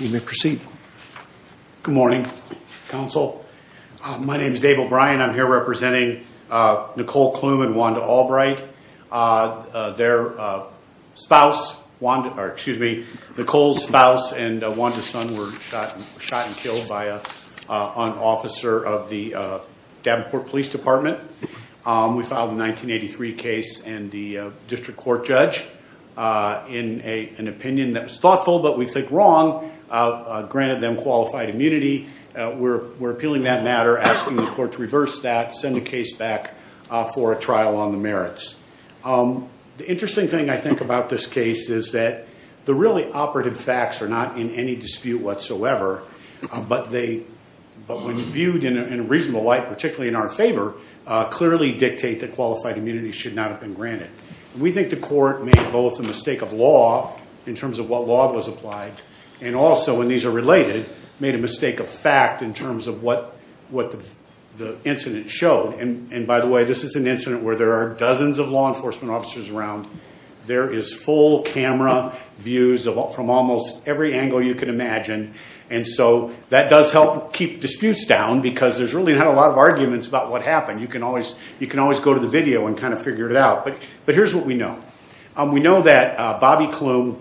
You may proceed. Good morning, counsel. My name is Dave O'Brien. I'm here representing Nicole Klum and Wanda Albright. Their spouse, Wanda, or excuse me, Nicole's spouse and Wanda's son were shot and killed by an officer of the Davenport Police Department. We filed a 1983 case and the district court judge, in an opinion that was thoughtful but we think wrong, granted them qualified immunity. We're appealing that matter, asking the court to reverse that, send the case back for a trial on the merits. The interesting thing I think about this case is that the really operative facts are not in any dispute whatsoever, but when viewed in a reasonable light, particularly in our favor, clearly dictate that qualified immunity should not have been granted. We think the court made both a mistake of law, in terms of what law was applied, and also when these are related, made a mistake of fact in terms of what the incident showed. And by the way, this is an incident where there are dozens of law enforcement officers around. There is full camera views from almost every angle you can imagine, and so that does help keep disputes down because there's really not a lot of arguments about what happened. You can always go to the video and kind of figure it out. But here's what we know. We know that Bobby Klum,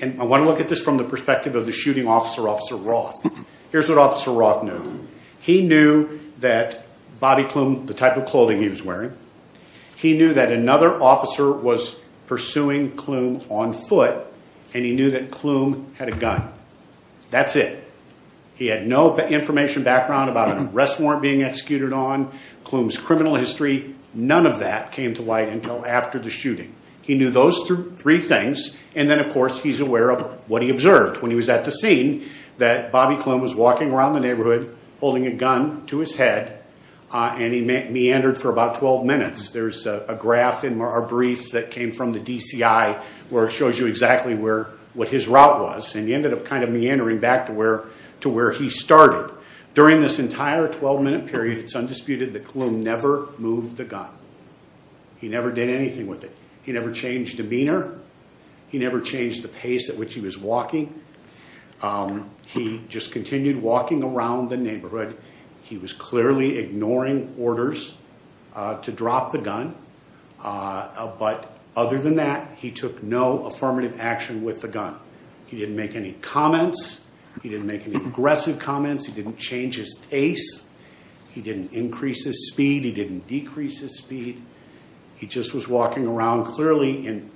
and I want to look at this from the perspective of the shooting officer, Officer Roth. Here's what Officer Roth knew. He knew that Bobby Klum, the type of clothing he was wearing, he knew that another officer was pursuing Klum on foot, and he knew that Klum had a gun. That's it. He had no information background about an arrest warrant being executed on, Klum's criminal history, none of that came to light until after the shooting. He knew those three things, and then of course, he's aware of what he observed when he was at the scene, that Bobby Klum was walking around the neighborhood, holding a gun to his head, and he meandered for about 12 minutes. There's a graph in our brief that came from the DCI, where it shows you exactly where, what his route was, and he ended up kind of meandering back to where, to where he started. During this entire 12-minute period, it's undisputed that Klum never moved the gun. He never did anything with it. He never changed demeanor. He never changed the pace at which he was walking. He just continued walking around the neighborhood. He was clearly ignoring orders to drop the gun, but other than that, he took no affirmative action with the gun. He didn't make any comments. He didn't make any aggressive comments. He didn't change his pace. He didn't increase his speed. He didn't decrease his speed. He just was walking around clearly, and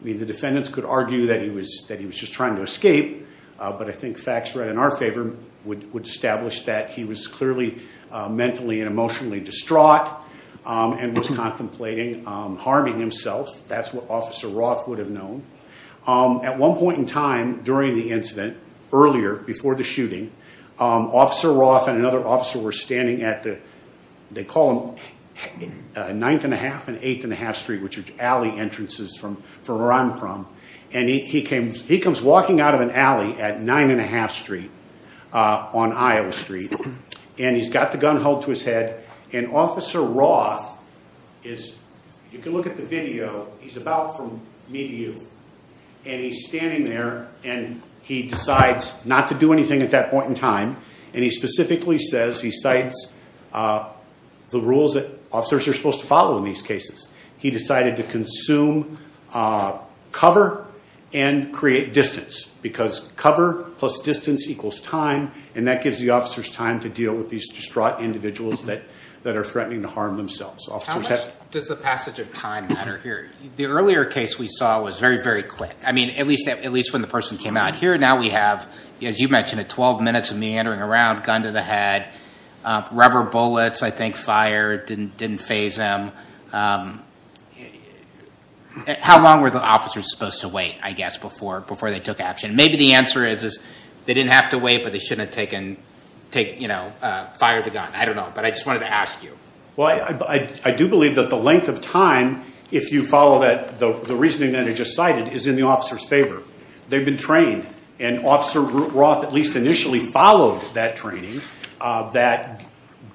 I mean, the defendants could argue that he was, that he was just trying to escape, but I think facts read in our favor would establish that he was clearly mentally and emotionally distraught and was contemplating harming himself. That's what Officer Roth would have known. At one point in time, during the incident, earlier, before the shooting, Officer Roth and another officer were standing at the, they call them 9th and a half and 8th and a half street, which are entrances from where I'm from, and he comes walking out of an alley at 9 and a half street on Iowa street, and he's got the gun held to his head, and Officer Roth is, you can look at the video, he's about from me to you, and he's standing there, and he decides not to do anything at that point in time, and he specifically says, he cites the rules that officers are supposed to follow in these cases. He decided to consume cover and create distance, because cover plus distance equals time, and that gives the officers time to deal with these distraught individuals that are threatening to harm themselves. How much does the passage of time matter here? The earlier case we saw was very, very quick. I mean, at least when the person came out here, now we have, as you mentioned it, 12 minutes of meandering around, gun to the head, rubber bullets, I think, fired, didn't phase them. How long were the officers supposed to wait, I guess, before they took action? Maybe the answer is they didn't have to wait, but they shouldn't have fired the gun. I don't know, but I just wanted to ask you. Well, I do believe that the length of time, if you follow the reasoning that I just cited, is in the officer's favor. They've been that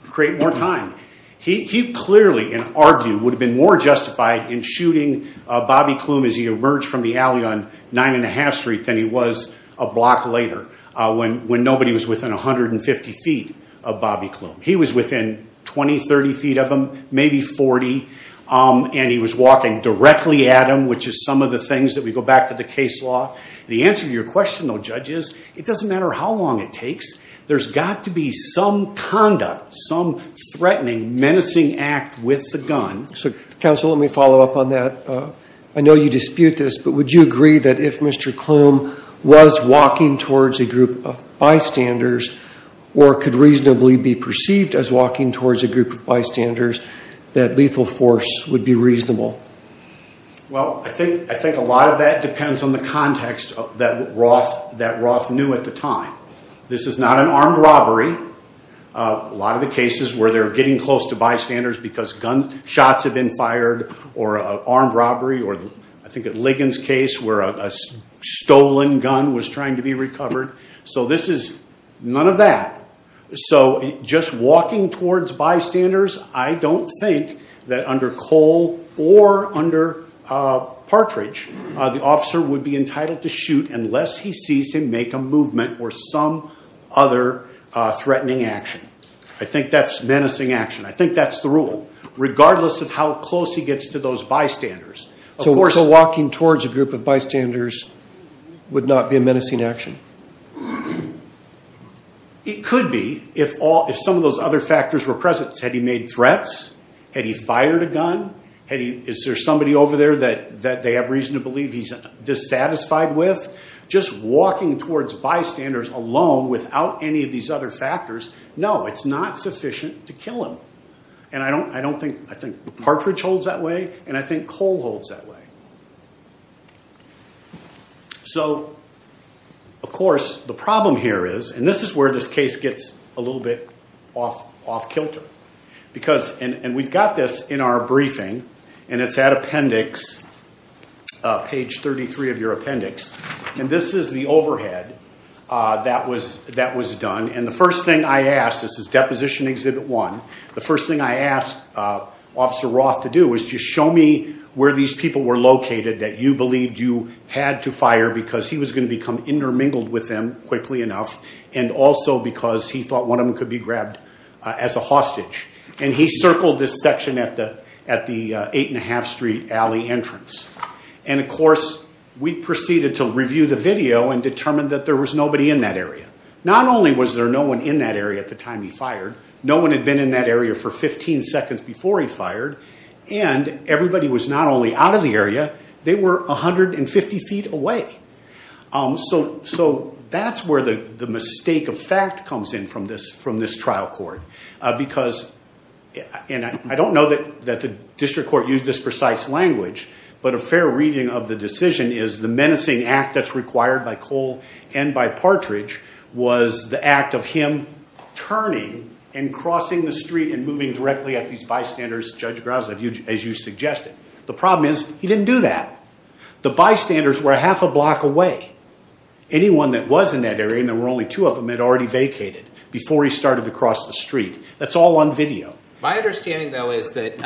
create more time. He clearly, in our view, would have been more justified in shooting Bobby Klum as he emerged from the alley on 9 1⁄2th Street than he was a block later, when nobody was within 150 feet of Bobby Klum. He was within 20, 30 feet of him, maybe 40, and he was walking directly at him, which is some of the things that we go back to the case law. The answer to your it takes, there's got to be some conduct, some threatening, menacing act with the gun. So, counsel, let me follow up on that. I know you dispute this, but would you agree that if Mr. Klum was walking towards a group of bystanders or could reasonably be perceived as walking towards a group of bystanders, that lethal force would be reasonable? Well, I think a lot of that depends on the context that Roth knew at the time. This is not an armed robbery. A lot of the cases where they're getting close to bystanders because gunshots have been fired or armed robbery or I think at Ligon's case where a stolen gun was trying to be recovered. So this is none of that. So just walking towards bystanders, I don't think that under Cole or under Partridge, the officer would be entitled to shoot unless he sees him make a movement or some other threatening action. I think that's menacing action. I think that's the rule, regardless of how close he gets to those bystanders. So walking towards a group of bystanders would not be a menacing action? It could be if some of those other factors were present. Had he made threats? Had he fired a gun? Is there somebody over there that they have reason to believe he's dissatisfied with? Just walking towards bystanders alone without any of these other factors, no, it's not sufficient to kill him. And I don't think, I think Partridge holds that way and I think Cole holds that way. So, of course, the problem here is, and this is where this case gets a little bit off kilter because, and we've got this in our briefing and it's at appendix, page 33 of your appendix, and this is the overhead that was done. And the first thing I asked, this is deposition exhibit one. The first thing I asked officer Roth to do is just show me where these people were located that you believed you had to fire because he was going to become intermingled with them quickly enough. And also because he thought one of them could be grabbed as a hostage. And he circled this section at the eight and a half street alley entrance. And of course, we proceeded to review the video and determined that there was nobody in that area. Not only was there no one in that area at the time he fired, no one had been in that area for 15 seconds before he fired. And everybody was not only out of the area, they were 150 feet away. So that's where the mistake of fact comes in from this trial court. Because, and I don't know that the district court used this precise language, but a fair reading of the decision is the menacing act that's required by Cole and by Partridge was the act of him turning and crossing the street and moving directly at these judge Grouse, as you suggested. The problem is he didn't do that. The bystanders were half a block away. Anyone that was in that area, and there were only two of them had already vacated before he started to cross the street. That's all on video. My understanding though, is that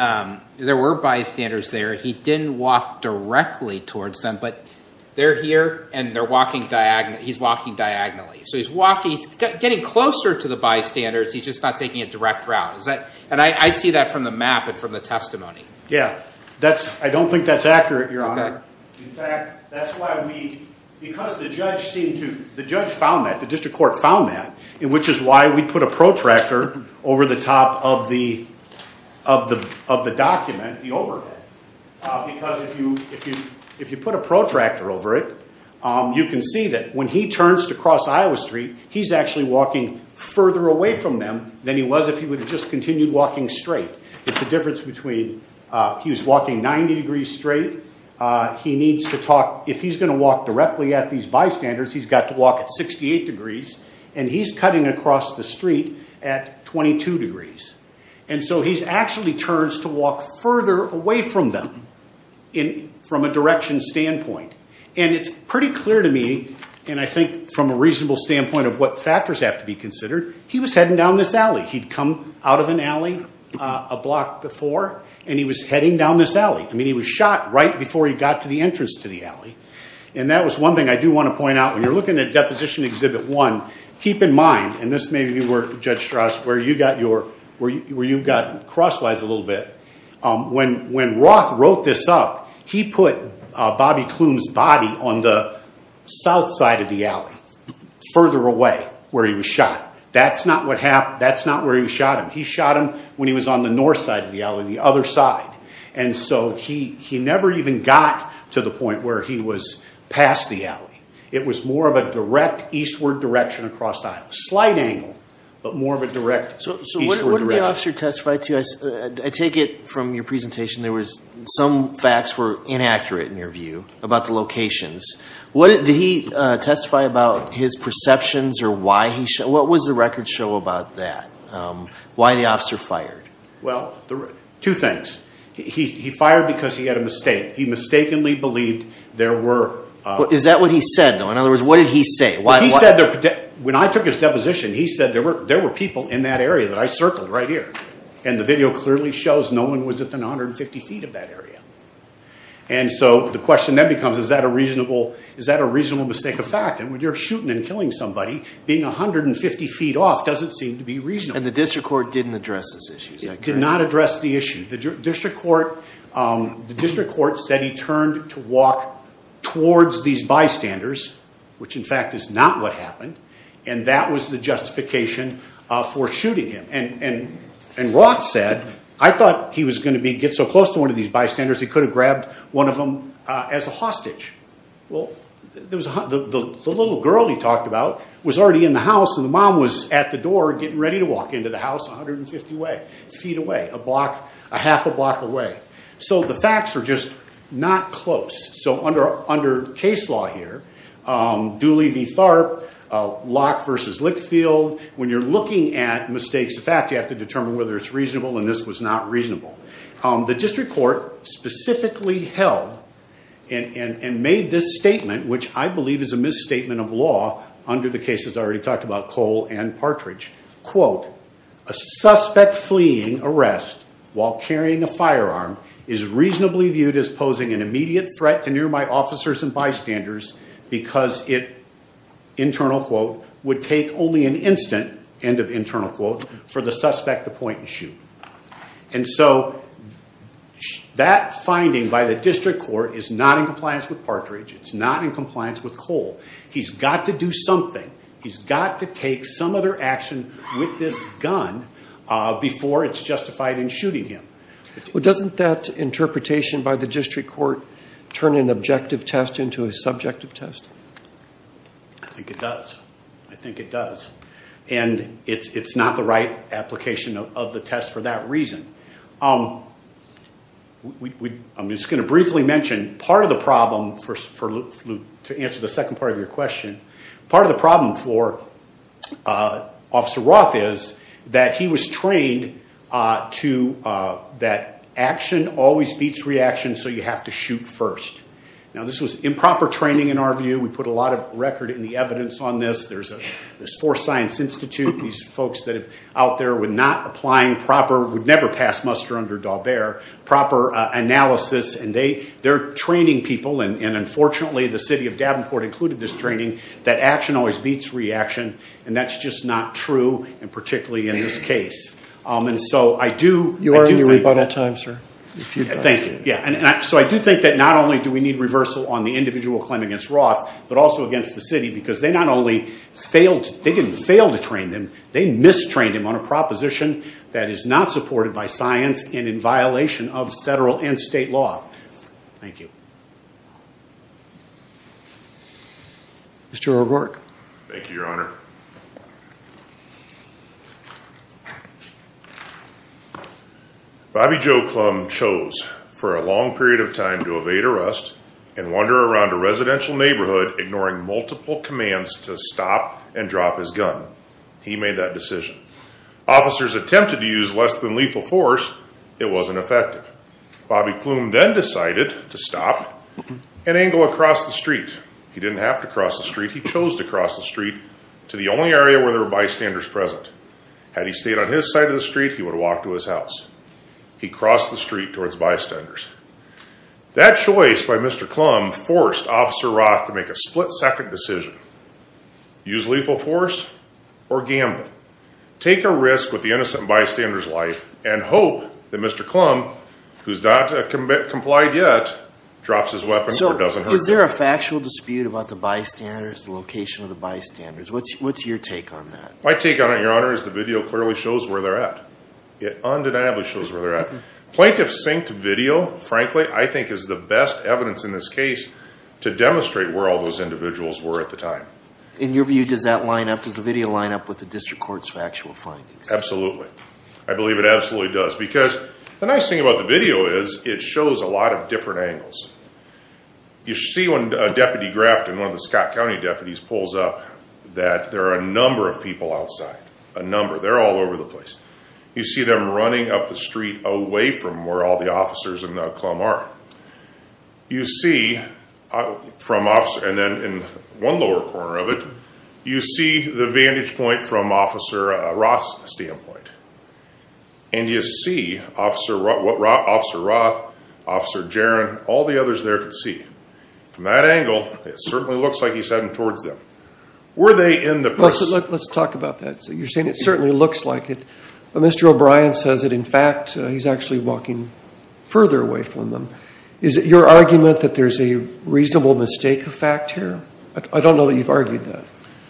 there were bystanders there. He didn't walk directly towards them, but they're here and they're walking diagonally. He's walking diagonally. So he's walking, he's getting closer to the bystanders. He's just not taking a map and from the testimony. Yeah, that's, I don't think that's accurate, your honor. In fact, that's why we, because the judge seemed to, the judge found that, the district court found that, which is why we put a protractor over the top of the, of the, of the document, the overhead. Because if you, if you, if you put a protractor over it, you can see that when he turns to cross Iowa street, he's actually walking further away from them than he was if he would have just continued walking straight. It's a difference between, he was walking 90 degrees straight. He needs to talk, if he's going to walk directly at these bystanders, he's got to walk at 68 degrees and he's cutting across the street at 22 degrees. And so he's actually turns to walk further away from them in, from a direction standpoint. And it's pretty clear to me, and I think from a reasonable standpoint of what factors have to be considered, he was heading down this alley. He'd come out of an alley a block before and he was heading down this alley. I mean, he was shot right before he got to the entrance to the alley. And that was one thing I do want to point out. When you're looking at deposition exhibit one, keep in mind, and this may be where Judge Strauss, where you got your, where you got crosswise a little bit. When, when Roth wrote this up, he put Bobby Klum's body on the south side of the alley, further away where he was shot. That's not what happened. That's not where he shot him. He shot him when he was on the north side of the alley, the other side. And so he, he never even got to the point where he was past the alley. It was more of a direct eastward direction across the aisle, slight angle, but more of a direct eastward direction. So what did the officer testify to? I take it from your presentation, there was some facts were inaccurate in your view about the locations. What did he testify about his perceptions or why he, what was the record show about that? Why the officer fired? Well, two things. He fired because he had a mistake. He mistakenly believed there were... Is that what he said though? In other words, what did he say? Well, he said that when I took his deposition, he said there were, there were people in that area that I circled right here. And the video clearly shows no one was at the 150 feet of that area. And so the question then becomes, is that a reasonable, is that a reasonable mistake of fact? And when you're shooting and killing somebody, being 150 feet off doesn't seem to be reasonable. And the district court didn't address this issue, is that correct? Did not address the issue. The district court, the district court said he turned to walk towards these bystanders, which in fact is not what happened. And that was the justification for shooting him. And Roth said, I thought he was going to be, get so close to one of these bystanders, he could have grabbed one of them as a hostage. Well, there was the little girl he talked about was already in the house and the mom was at the door getting ready to walk into the house 150 feet away, a block, a half a block away. So the facts are just not close. So under case law here, Dooley v. Tharp, Locke versus Lickfield, when you're looking at mistakes of fact, you have to determine whether it's reasonable and this was not reasonable. The district court specifically held and made this statement, which I believe is a misstatement of law under the cases I already talked about, Cole and Partridge. Quote, a suspect fleeing arrest while carrying a firearm is reasonably viewed as posing an immediate threat to near my officers and bystanders because it, internal quote, would take only an instant, end of internal quote, for the suspect to point and shoot. And so that finding by the district court is not in compliance with Partridge. It's not in compliance with Cole. He's got to do something. He's got to take some other action with this gun before it's justified in shooting him. Well, doesn't that interpretation by the district court turn an objective test into a subjective test? I think it does. I think it does. And it's not the right application of the test for that reason. I'm just going to briefly mention part of the problem, to answer the second part of your question, part of the problem for Officer Roth is that he was trained to, that action always beats reaction, so you have to shoot first. Now this was improper training in our view. We put a lot of record in the evidence on this. There's a, there's four science institute, these folks that have out there with not applying proper, would never pass muster under D'Albert, proper analysis and they, they're training people and unfortunately the city of Davenport included this training, that action always beats reaction and that's just not true and particularly in this case. And so I do, you are in your rebuttal time, sir. Thank you. Yeah. And so I do think that not only do we need reversal on the individual claim against Roth, but also against the city because they not only failed, they didn't fail to train them. They mistrained him on a proposition that is not supported by science and in violation of federal and state law. Thank you. Mr. O'Rourke. Thank you, your honor. Bobby Joe Klum chose for a long period of time to evade arrest and wander around a residential neighborhood, ignoring multiple commands to stop and drop his gun. He made that decision. Officers attempted to use less than lethal force. It wasn't effective. Bobby Klum then decided to an angle across the street. He didn't have to cross the street. He chose to cross the street to the only area where there were bystanders present. Had he stayed on his side of the street, he would have walked to his house. He crossed the street towards bystanders. That choice by Mr. Klum forced officer Roth to make a split second decision. Use lethal force or gamble. Take a risk with the innocent bystanders life and hope that Mr. Klum, who's not complied yet, drops his weapon. So is there a factual dispute about the bystanders, the location of the bystanders? What's, what's your take on that? My take on it, your honor, is the video clearly shows where they're at. It undeniably shows where they're at. Plaintiff synced video, frankly, I think is the best evidence in this case to demonstrate where all those individuals were at the time. In your view, does that line up, does the video line up with the district court's factual findings? Absolutely. I believe it absolutely does because the nice thing about the video is it shows a lot of different angles. You see when a deputy Grafton, one of the Scott County deputies pulls up that there are a number of people outside, a number, they're all over the place. You see them running up the street away from where all the officers and the Klum are. You see from officer, and then in one lower corner of it, you see the vantage point from Roth's standpoint. And you see officer Roth, officer Jaron, all the others there could see. From that angle, it certainly looks like he's heading towards them. Were they in the press? Let's talk about that. So you're saying it certainly looks like it, but Mr. O'Brien says that in fact, he's actually walking further away from them. Is it your argument that there's a reasonable mistake of fact here? I don't know that you've argued that.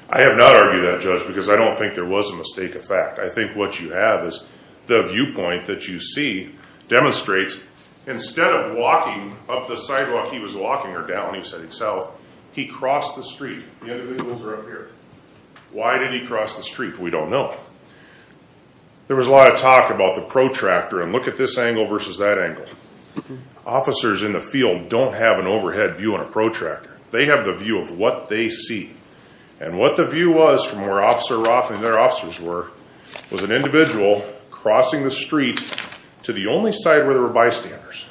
I have not argued that, Judge, because I don't think there was a mistake of fact. I think what you have is the viewpoint that you see demonstrates instead of walking up the sidewalk, he was walking or down, he said south, he crossed the street. The other vehicles are up here. Why did he cross the street? We don't know. There was a lot of talk about the protractor and look at this angle versus that angle. Officers in the field don't have an overhead view on a protractor. They have the view of what they see and what the view was from where Officer Roth and their officers were, was an individual crossing the street to the only side where there were bystanders.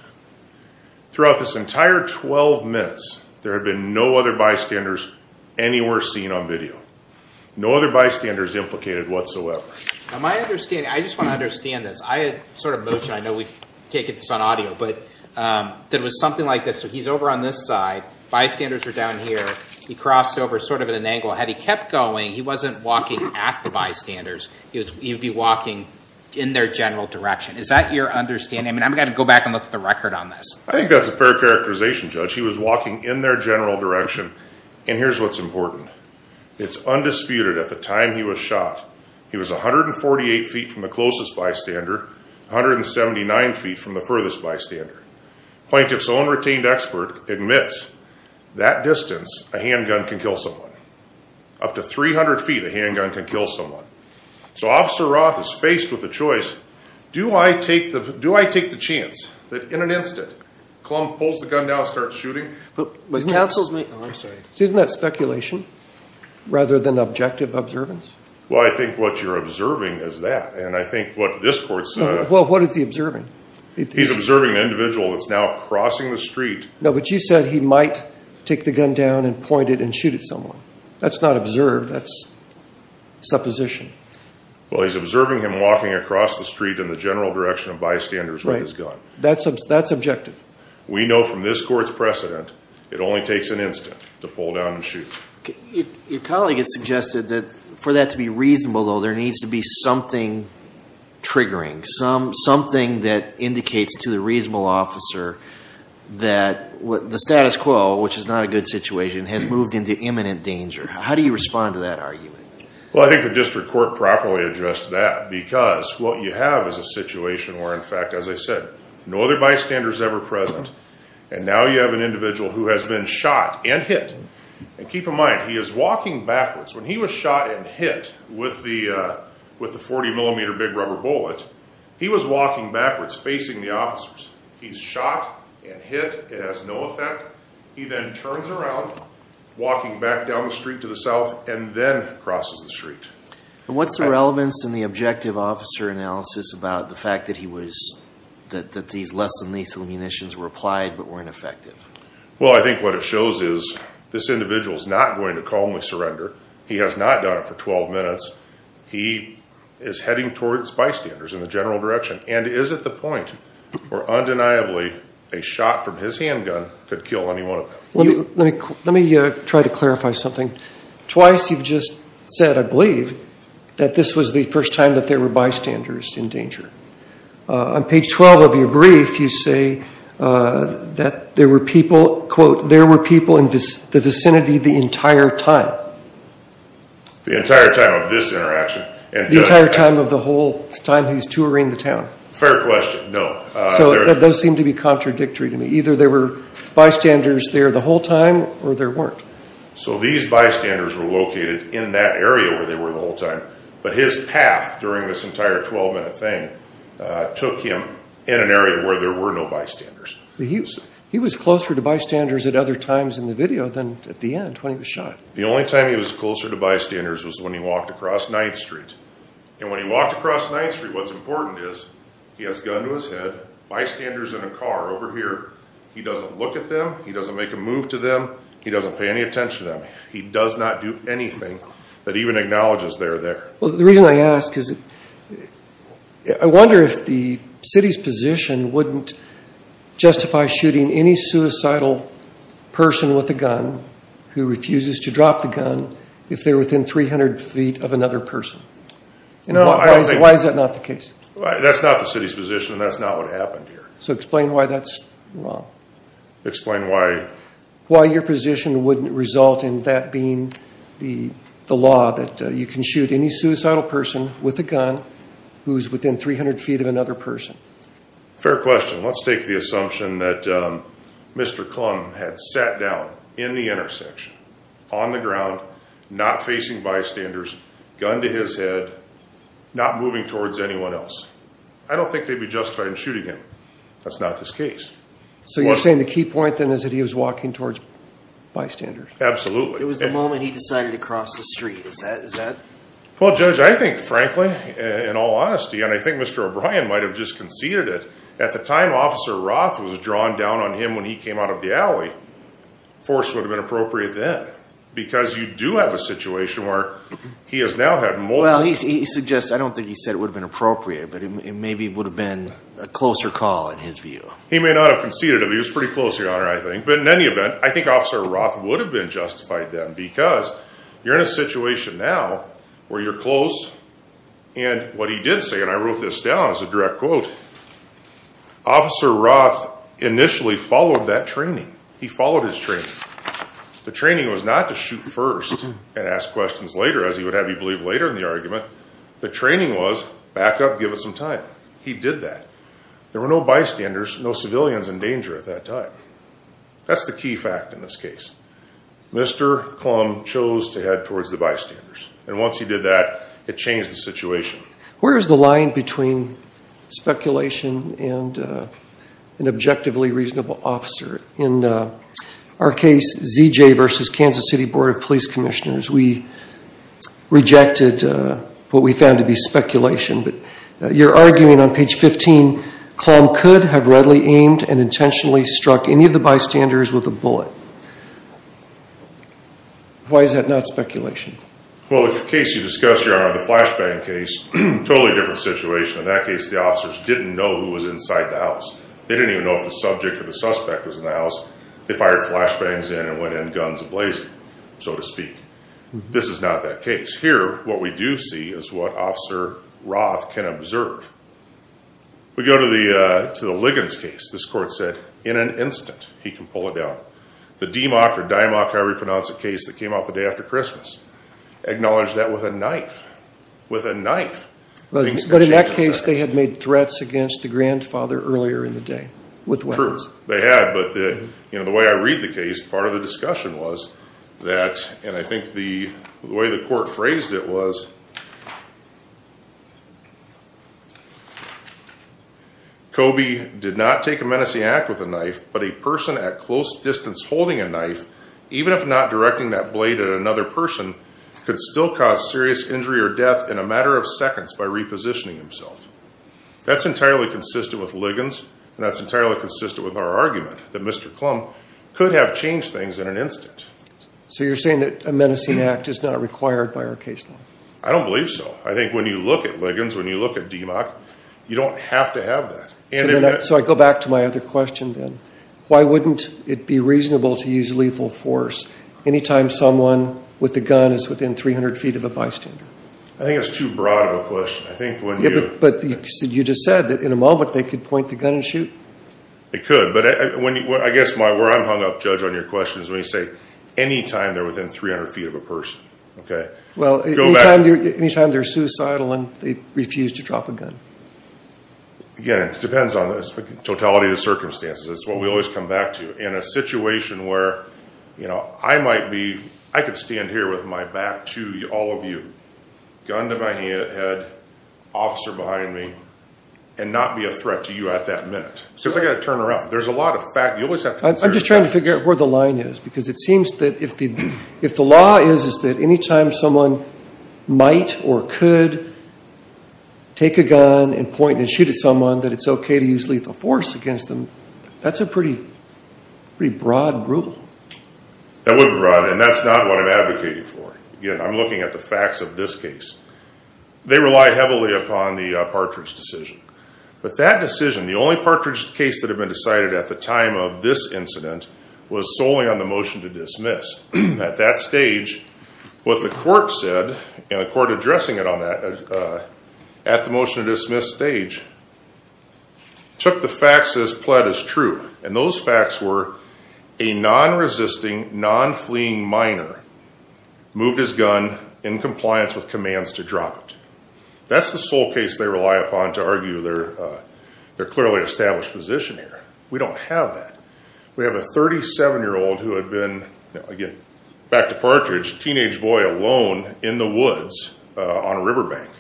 Throughout this entire 12 minutes, there had been no other bystanders anywhere seen on video. No other bystanders implicated whatsoever. Now my understanding, I just want to understand this, I had sort of motioned, I know we've taken this on audio, but there was something like this. So he's over on this side, bystanders are down here, he crossed over sort of at an angle. Had he kept going, he wasn't walking at the bystanders, he would be walking in their general direction. Is that your understanding? I mean I'm going to go back and look at the record on this. I think that's a fair characterization Judge. He was walking in their general direction and here's what's important. It's undisputed at the time he was shot, he was 148 feet from the closest bystander, 179 feet from the furthest bystander. Plaintiff's own retained expert admits that distance a handgun can kill someone. Up to 300 feet a handgun can kill someone. So Officer Roth is faced with a choice, do I take the do I take the chance that in an instant, Klum pulls the gun down starts shooting? But counsel's making, oh I'm sorry. Isn't that speculation rather than objective observance? Well I think what you're observing is that and I think what this court said. Well what is he observing? He's observing an individual that's now crossing the street. No but you said he might take the gun down and point it and shoot at someone. That's not observed, that's supposition. Well he's observing him walking across the street in the general direction of bystanders with his gun. That's objective. We know from this court's precedent, it only takes an instant to pull down and shoot. Your colleague has suggested that for that to be reasonable though there needs to be something triggering. Something that indicates to the reasonable officer that the status quo, which is not a good situation, has moved into imminent danger. How do you respond to that argument? Well I think the district court properly addressed that because what you have is a situation where in fact as I said no other bystander is ever present and now you have an individual who has been shot and hit. And keep in mind he is walking backwards. When he was shot and hit with the 40 millimeter big rubber bullet, he was walking backwards facing the officers. He's shot and hit. It has no effect. He then turns around walking back down the street to the south and then crosses the street. And what's the relevance in the objective officer analysis about the fact that he was that these less than lethal munitions were applied but weren't effective? Well I think what it shows is this individual is not going to calmly surrender. He has not done it for 12 minutes. He is heading towards bystanders in the general direction. And is it the point where undeniably a shot from his handgun could kill any one of them? Let me try to clarify something. Twice you've just said I believe that this was the first time that there were bystanders in danger. On page 12 of your brief you say that there were people quote there were people in the vicinity the entire time. The entire time of this interaction? The entire time of the whole time he's touring the town. Fair question. No. So those seem to be contradictory to me. Either there were bystanders there the whole time or there weren't. So these bystanders were located in that area where they were the whole time. But his path during this entire 12 minute thing took him in an area where there were no bystanders. He was closer to bystanders at other times in the video than at the end when he was shot. The only time he was closer to bystanders was when he walked across 9th street. And when he walked across 9th street what's important is he has a gun to his head. Bystanders in a car over here. He doesn't look at them. He doesn't make a move to them. He doesn't pay any attention to them. He does not do anything that even acknowledges they're there. Well the reason I ask is I wonder if the city's position wouldn't justify shooting any suicidal person with a gun who refuses to drop the gun if they're within 300 feet of another person. Why is that not the case? That's not the city's position and that's not what happened here. Explain why that's wrong. Explain why your position wouldn't result in that being the law that you can shoot any suicidal person with a gun who's within 300 feet of another person. Fair question. Let's take the assumption that Mr. Klum had sat down in the intersection on the ground not facing bystanders, gun to his head, not moving towards anyone else. I don't think they'd be justified in shooting him. That's not his case. So you're saying the key point then is that he was walking towards bystanders? Absolutely. It was the moment he decided to cross the street. Is that? Well judge I think frankly in all honesty and I think Mr. O'Brien might have just conceded it. At the time Officer Roth was drawn down on him when he came out of the alley force would have been appropriate then because you do have a situation where he has now had multiple. Well he suggests I don't think he said it would have been appropriate but maybe it would have been a closer call in his view. He may not have conceded it but he was pretty close your honor I think but in any event I think Officer Roth would have been justified then because you're in a situation now where you're close and what he did say and I wrote this down as a direct quote. Officer Roth initially followed that training. He followed his training. The training was not to shoot first and ask questions later as he would have you believe later in the argument. The training was back up give it some time. He did that. There were no bystanders, no civilians in danger at that time. That's the key fact in this case. Mr. Klum chose to head towards the bystanders and once he did that it changed the situation. Where is the line between speculation and an objectively reasonable officer? In our case ZJ versus Kansas City Board of Police Commissioners we rejected what we found to be speculation but you're arguing on page 15 Klum could have readily aimed and intentionally struck any of the bystanders with a bullet. Why is that not speculation? Well the case you discussed your honor the flashbang case totally different situation. In that case the officers didn't know who was inside the house. They didn't even know if the subject or the suspect was in the house. They fired flashbangs and went in guns blazing so to speak. This is not that case. Here what we do see is what Officer Roth can observe. We go to the Liggins case. This court said in an instant he can pull it down. The DMOC or DIMOC I repronounce a case that came out the day after Christmas acknowledged that with a knife with a knife. But in that case they had made threats against the grandfather earlier in the day with weapons. They had but the you know the way I read the case part of the discussion was that and I think the way the court phrased it was Kobe did not take a menacing act with a knife but a person at close distance holding a knife even if not directing that blade at another person could still cause serious injury or death in a matter of seconds by repositioning himself. That's entirely consistent with Liggins and that's entirely consistent with our argument that Mr. Klum could have changed things in an instant. So you're saying that a menacing act is not required by our case law? I don't believe so. I think when you look at Liggins when you look at DMOC you don't have to have that. So I go back to my other question then. Why wouldn't it be reasonable to use lethal force anytime someone with the gun is within 300 feet of a bystander? I think it's too broad of a question. I think it could but I guess where I'm hung up judge on your question is when you say anytime they're within 300 feet of a person okay. Well anytime they're suicidal and they refuse to drop a gun. Again it depends on the totality of the circumstances. It's what we always come back to in a situation where you know I might be I could stand here with my back to all of you gun to my head officer behind me and not be a threat to you at that minute because I got to turn around. There's a lot of fact you always have to. I'm just trying to figure out where the line is because it seems that if the if the law is is that anytime someone might or could take a gun and point and shoot at someone that it's okay to use lethal force against them. That's a pretty pretty broad rule. That wouldn't be broad and that's not what I'm advocating for. Again I'm at the facts of this case. They rely heavily upon the Partridge decision but that decision the only Partridge case that had been decided at the time of this incident was solely on the motion to dismiss. At that stage what the court said and the court addressing it on that at the motion to dismiss stage took the facts as pled as true and those facts were a non-resisting non-fleeing minor moved his gun in compliance with commands to drop it. That's the sole case they rely upon to argue their clearly established position here. We don't have that. We have a 37 year old who had been again back to Partridge teenage boy alone in the woods on a riverbank.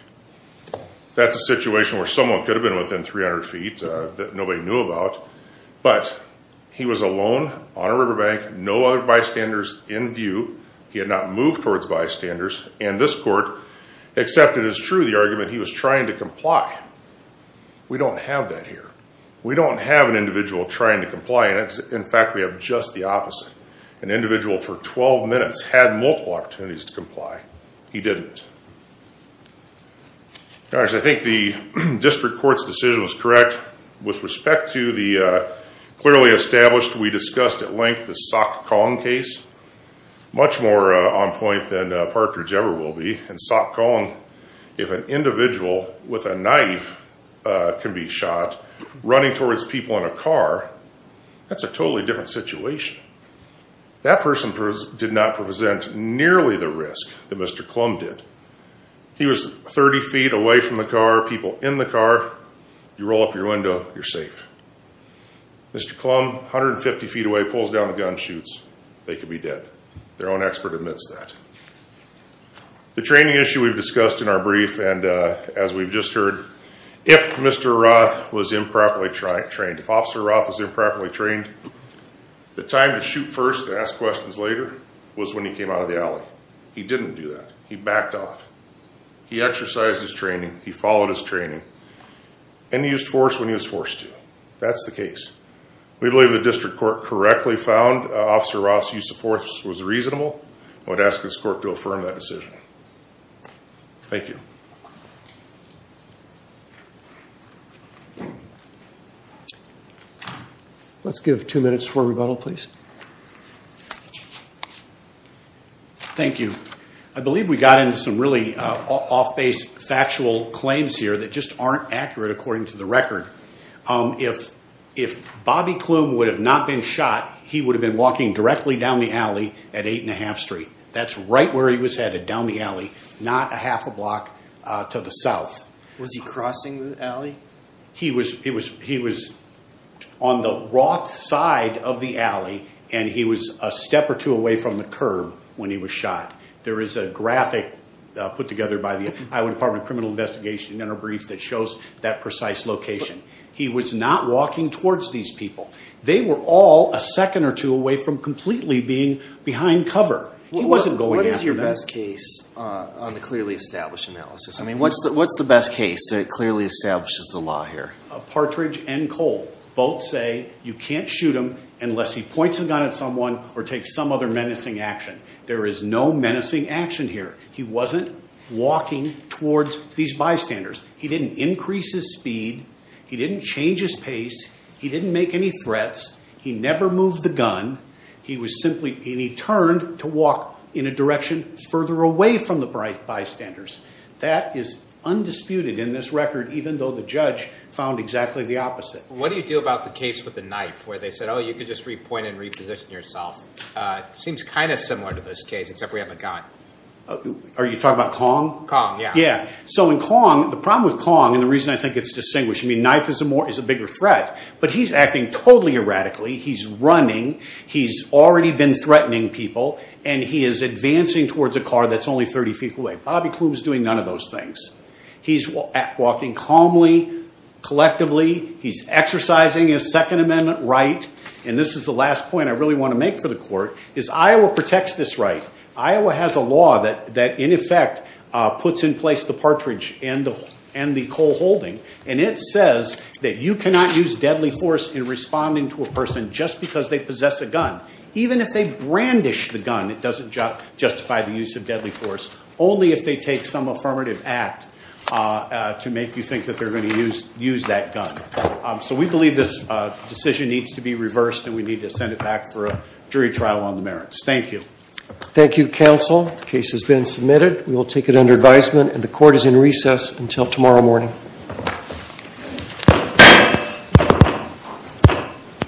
That's a situation where someone could have been within 300 feet that nobody knew about but he was alone on a riverbank no other bystanders in view. He had not moved towards bystanders and this court accepted as true the argument he was trying to comply. We don't have that here. We don't have an individual trying to comply and it's in fact we have just the opposite. An individual for 12 minutes had multiple opportunities to comply. He didn't. I think the district court's decision was correct with respect to the clearly established we discussed at length the Sok Kong case. Much more on point than Partridge ever will be and Sok Kong if an individual with a knife can be shot running towards people in a car that's a totally different situation. That person did not present nearly the risk that Mr. Klum did. He was 30 feet away from the car, people in the car, you roll up your window, you're safe. Mr. Klum 150 feet away pulls down the gun shoots. They could be dead. Their own expert admits that. The training issue we've discussed in our brief and as we've just heard if Mr. Roth was improperly trained, if Officer Roth was improperly trained, the time to shoot first and ask questions later was when he came out of He didn't do that. He backed off. He exercised his training. He followed his training and used force when he was forced to. That's the case. We believe the district court correctly found Officer Roth's use of force was reasonable. I would ask this court to affirm that decision. Thank you. Let's give two minutes for rebuttal please. Thank you. I believe we got into some really off-base factual claims here that just aren't accurate according to the record. If Bobby Klum would have not been shot, he would have been walking directly down the alley at 8 1⁄2 Street. That's right where he was headed down the alley, not a half a block to the south. Was he crossing the alley? He was on the Roth side of the alley and he was a step or two away from the curb when he was shot. There is a graphic put together by the Iowa Department of Criminal Investigation in our brief that shows that precise location. He was not walking towards these people. They were all a second or two away from completely being behind cover. He wasn't going after them. What is your best case on the clearly established analysis? I mean, what's the best case that clearly establishes the law here? Partridge and Cole both say you can't shoot him unless he points a gun at someone or takes some other menacing action. There is no menacing action here. He wasn't walking towards these bystanders. He didn't increase his speed. He didn't change his pace. He didn't make any threats. He never moved the gun. He turned to walk in a direction further away from the bystanders. That is undisputed in this record, even though the judge found exactly the opposite. What do you do about the case with the knife where they said, oh, you could just repoint and reposition yourself? Seems kind of similar to this case, except we have a gun. Are you talking about Kong? Kong, yeah. Yeah. So in Kong, the problem with Kong and the reason I think it's distinguished, I mean, knife is a bigger threat, but he's acting totally erratically. He's running. He's already been threatening people and he is advancing towards a car that's only 30 feet away. Bobby Klum is doing none of those things. He's walking calmly, collectively. He's exercising his second amendment right. And this is the last point I really want to make for the court is Iowa protects this right. Iowa has a law that in effect puts in place the partridge and the coal holding. And it says that you cannot use deadly force in responding to a person just because they possess a gun. Even if they brandish the gun, it doesn't justify the use of deadly force only if they take some affirmative act to make you think that they're going to use that gun. So we believe this decision needs to be reversed and we need to send it back for a jury trial on the merits. Thank you. Thank you, counsel. The case has been submitted. We will take it under advisement and the court is in recess until tomorrow morning.